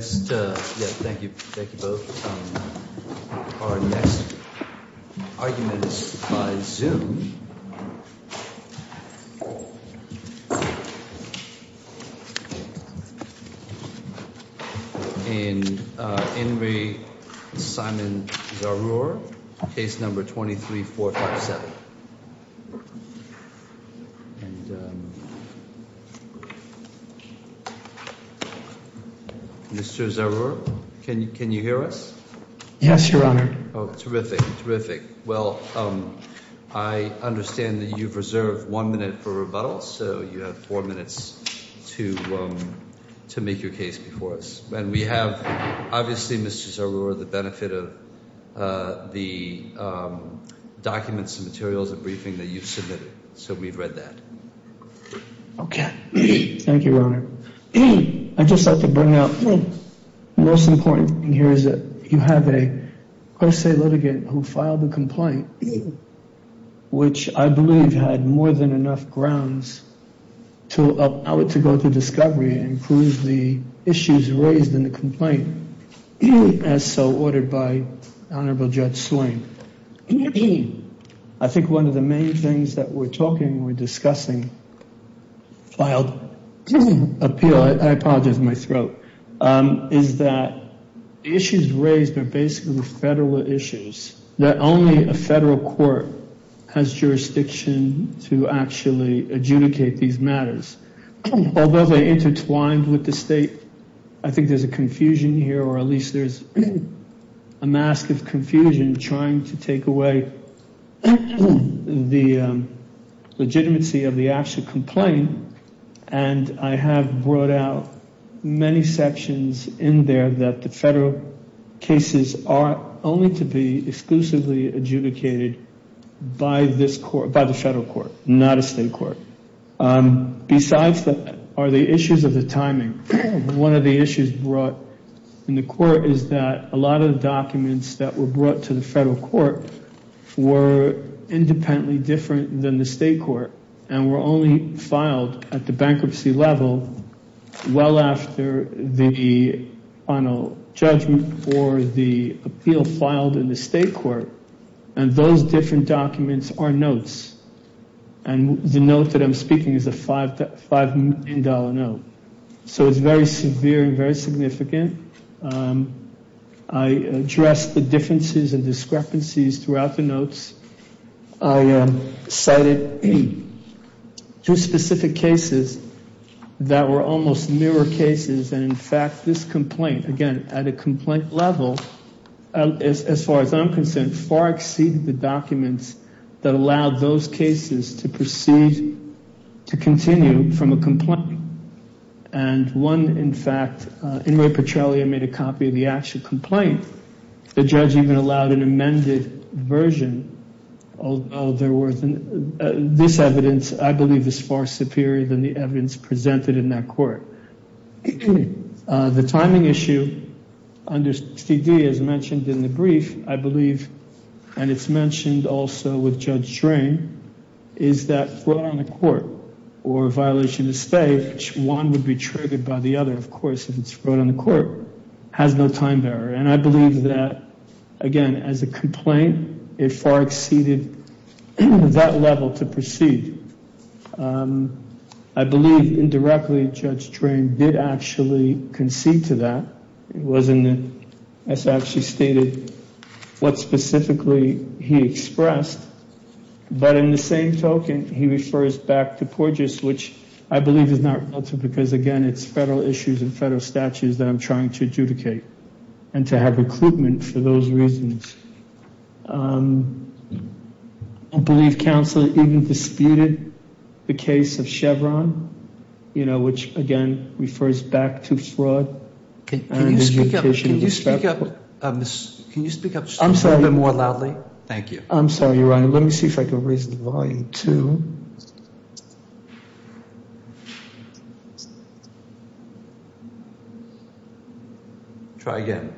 Our next argument is by Zoom in In Re. Simon Zarour, case number 23457. And Mr. Zarour, can you hear us? Yes, Your Honor. Oh, terrific, terrific. Well, I understand that you've reserved one minute for rebuttal, so you have four minutes to make your case before us. And we have, obviously, Mr. Zarour, the benefit of the documents and materials and briefing that you've submitted, so we've read that. Okay. Thank you, Your Honor. I'd just like to bring up the most important thing here is that you have a pro se litigant who filed a complaint, which I believe had more than enough grounds to allow it to go to discovery and prove the issues raised in the complaint, as so ordered by Honorable Judge Swain. I think one of the main things that we're talking, we're discussing, filed appeal, I apologize, my throat, is that the issues raised are basically federal issues, that only a federal court has jurisdiction to actually adjudicate these matters. Although they're intertwined with the state, I think there's a confusion here, or at least there's a mask of confusion, in trying to take away the legitimacy of the actual complaint, and I have brought out many sections in there that the federal cases are only to be exclusively adjudicated by this court, by the federal court, not a state court. Besides that are the issues of the timing. One of the issues brought in the court is that a lot of the documents that were brought to the federal court were independently different than the state court, and were only filed at the bankruptcy level well after the final judgment or the appeal filed in the state court, and those different documents are notes, and the note that I'm speaking is a $5 million note. So it's very severe and very significant. I addressed the differences and discrepancies throughout the notes. I cited two specific cases that were almost mirror cases, and in fact this complaint, again, at a complaint level, as far as I'm concerned, far exceeded the documents that allowed those cases to proceed, to continue from a complaint, and one, in fact, Inmate Petrelli made a copy of the actual complaint. The judge even allowed an amended version, although this evidence, I believe, is far superior than the evidence presented in that court. The timing issue under CD, as mentioned in the brief, I believe, and it's mentioned also with Judge Drain, is that fraud on the court or violation of state, which one would be triggered by the other, of course, if it's fraud on the court, has no time barrier, and I believe that, again, as a complaint, it far exceeded that level to proceed. I believe, indirectly, Judge Drain did actually concede to that. It wasn't, as actually stated, what specifically he expressed, but in the same token, he refers back to PORGES, which I believe is not relative because, again, it's federal issues and federal statutes that I'm trying to adjudicate and to have recruitment for those reasons. I believe counsel even disputed the case of Chevron, which, again, refers back to fraud. Can you speak up just a little bit more loudly? Thank you. I'm sorry, Your Honor. Let me see if I can raise the volume to... Try again.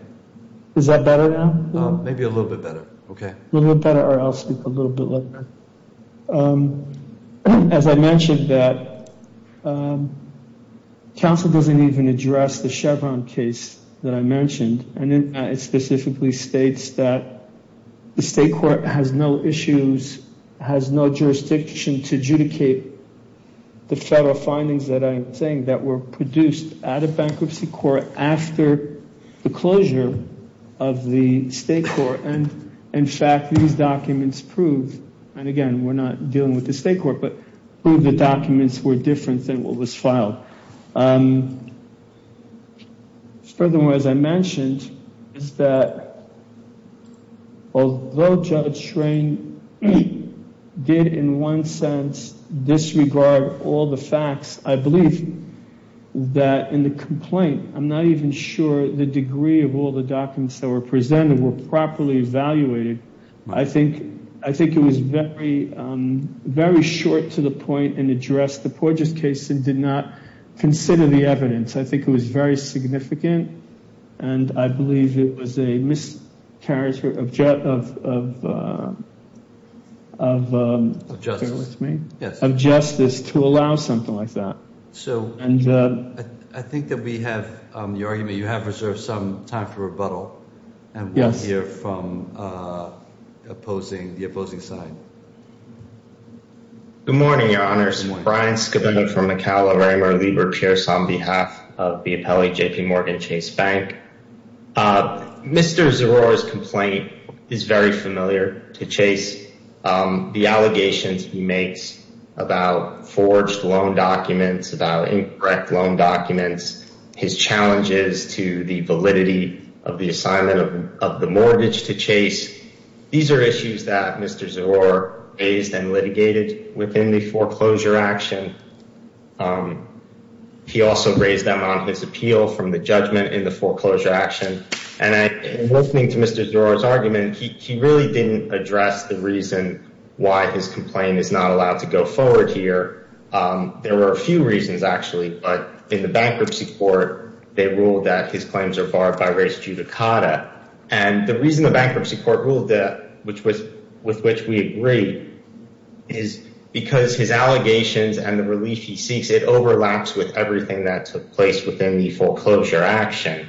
Is that better now? Maybe a little bit better. Okay. A little bit better, or I'll speak a little bit louder. As I mentioned, counsel doesn't even address the Chevron case that I mentioned, and it specifically states that the state court has no issues, has no jurisdiction to adjudicate the federal findings that I'm saying that were produced at a bankruptcy court after the closure of the state court. In fact, these documents prove, and again, we're not dealing with the state court, but prove the documents were different than what was filed. Furthermore, as I mentioned, is that although Judge Schrein did, in one sense, disregard all the facts, I believe that in the complaint, I'm not even sure the degree of all the documents that were presented were properly evaluated. I think it was very short to the point in the address. The Porges case did not consider the evidence. I think it was very significant, and I believe it was a miscarriage of justice to allow something like that. I think that we have your argument. You have reserved some time for rebuttal, and we'll hear from the opposing side. Good morning, Your Honors. Brian Scavino from McAllen, Raymour, Lieber, Pierce on behalf of the appellate JPMorgan Chase Bank. Mr. Zerora's complaint is very familiar to Chase. The allegations he makes about forged loan documents, about incorrect loan documents, his challenges to the validity of the assignment of the mortgage to Chase, these are issues that Mr. Zerora raised and litigated within the foreclosure action. He also raised them on his appeal from the judgment in the foreclosure action. Listening to Mr. Zerora's argument, he really didn't address the reason why his complaint is not allowed to go forward here. There were a few reasons, actually, but in the bankruptcy court, they ruled that his claims are barred by race judicata. And the reason the bankruptcy court ruled that, with which we agree, is because his allegations and the relief he seeks, it overlaps with everything that took place within the foreclosure action.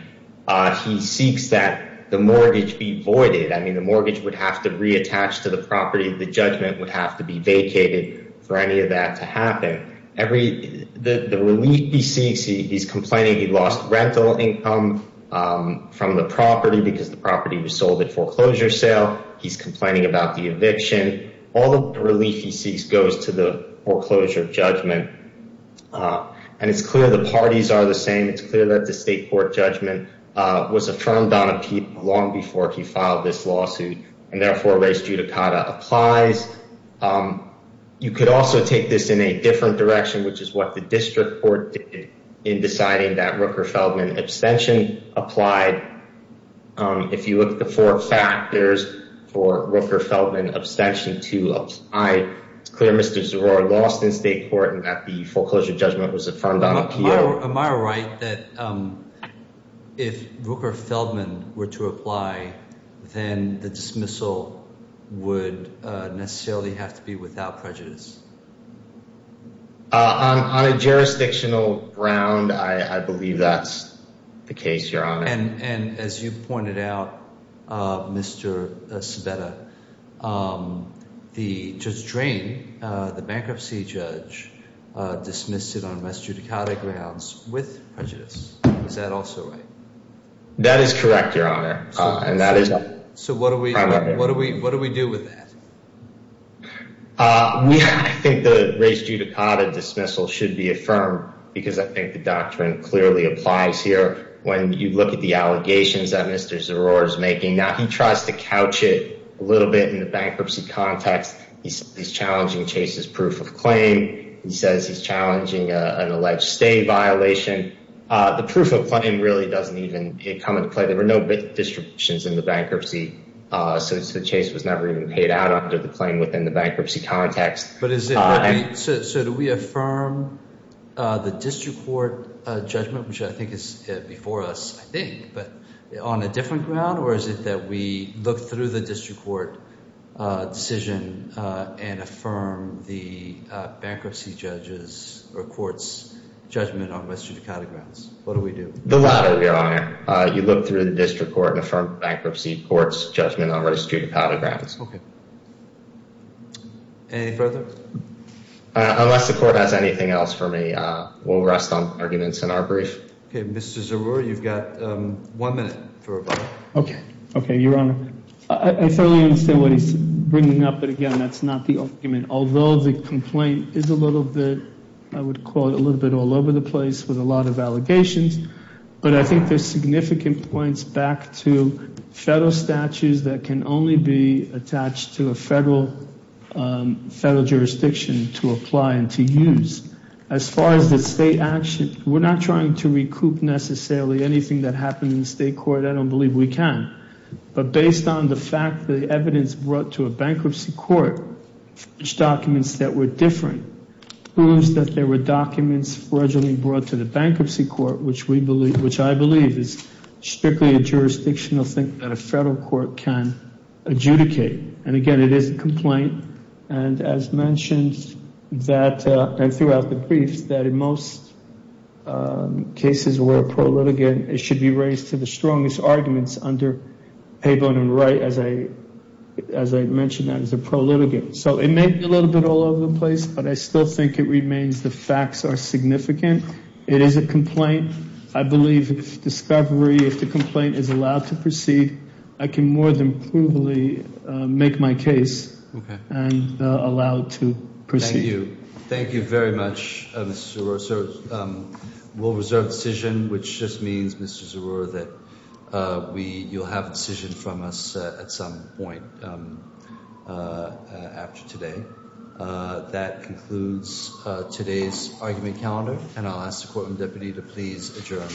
He seeks that the mortgage be voided. I mean, the mortgage would have to reattach to the property. The judgment would have to be vacated for any of that to happen. The relief he seeks, he's complaining he lost rental income from the property because the property was sold at foreclosure sale. He's complaining about the eviction. All the relief he seeks goes to the foreclosure judgment. And it's clear the parties are the same. It's clear that the state court judgment was affirmed on appeal long before he filed this lawsuit, and therefore race judicata applies. You could also take this in a different direction, which is what the district court did in deciding that Rooker-Feldman abstention applied. If you look at the four factors for Rooker-Feldman abstention to apply, it's clear Mr. Zerora lost in state court and that the foreclosure judgment was affirmed on appeal. Am I right that if Rooker-Feldman were to apply, then the dismissal would necessarily have to be without prejudice? On a jurisdictional ground, I believe that's the case, Your Honor. And as you pointed out, Mr. Sabetta, Judge Drain, the bankruptcy judge, dismissed it on race judicata grounds with prejudice. Is that also right? That is correct, Your Honor. So what do we do with that? I think the race judicata dismissal should be affirmed because I think the doctrine clearly applies here. When you look at the allegations that Mr. Zerora is making, he tries to couch it a little bit in the bankruptcy context. He's challenging Chase's proof of claim. He says he's challenging an alleged stay violation. The proof of claim really doesn't even come into play. There were no distributions in the bankruptcy, so Chase was never even paid out under the claim within the bankruptcy context. So do we affirm the district court judgment, which I think is before us, I think, but on a different ground? Or is it that we look through the district court decision and affirm the bankruptcy judge's or court's judgment on race judicata grounds? What do we do? The latter, Your Honor. You look through the district court and affirm the bankruptcy court's judgment on race judicata grounds. Okay. Any further? Unless the court has anything else for me, we'll rest on arguments in our brief. Okay. Mr. Zerora, you've got one minute for a vote. Okay. Okay, Your Honor. I thoroughly understand what he's bringing up, but, again, that's not the argument. Although the complaint is a little bit, I would call it a little bit all over the place with a lot of allegations, but I think there's significant points back to federal statutes that can only be attached to a federal jurisdiction to apply and to use. As far as the state action, we're not trying to recoup necessarily anything that happened in the state court. I don't believe we can. But based on the fact the evidence brought to a bankruptcy court, documents that were different, proves that there were documents fraudulently brought to the bankruptcy court, which I believe is strictly a jurisdictional thing that a federal court can adjudicate. And, again, it is a complaint. And as mentioned throughout the briefs, that in most cases where a pro-litigant, it should be raised to the strongest arguments under Pabon and Wright, as I mentioned, as a pro-litigant. So it may be a little bit all over the place, but I still think it remains the facts are significant. It is a complaint. I believe if discovery, if the complaint is allowed to proceed, I can more than provably make my case and allow it to proceed. Thank you. Thank you very much, Mr. Zeroor. So we'll reserve the decision, which just means, Mr. Zeroor, that you'll have a decision from us at some point after today. That concludes today's argument calendar, and I'll ask the Courtroom Deputy to please adjourn.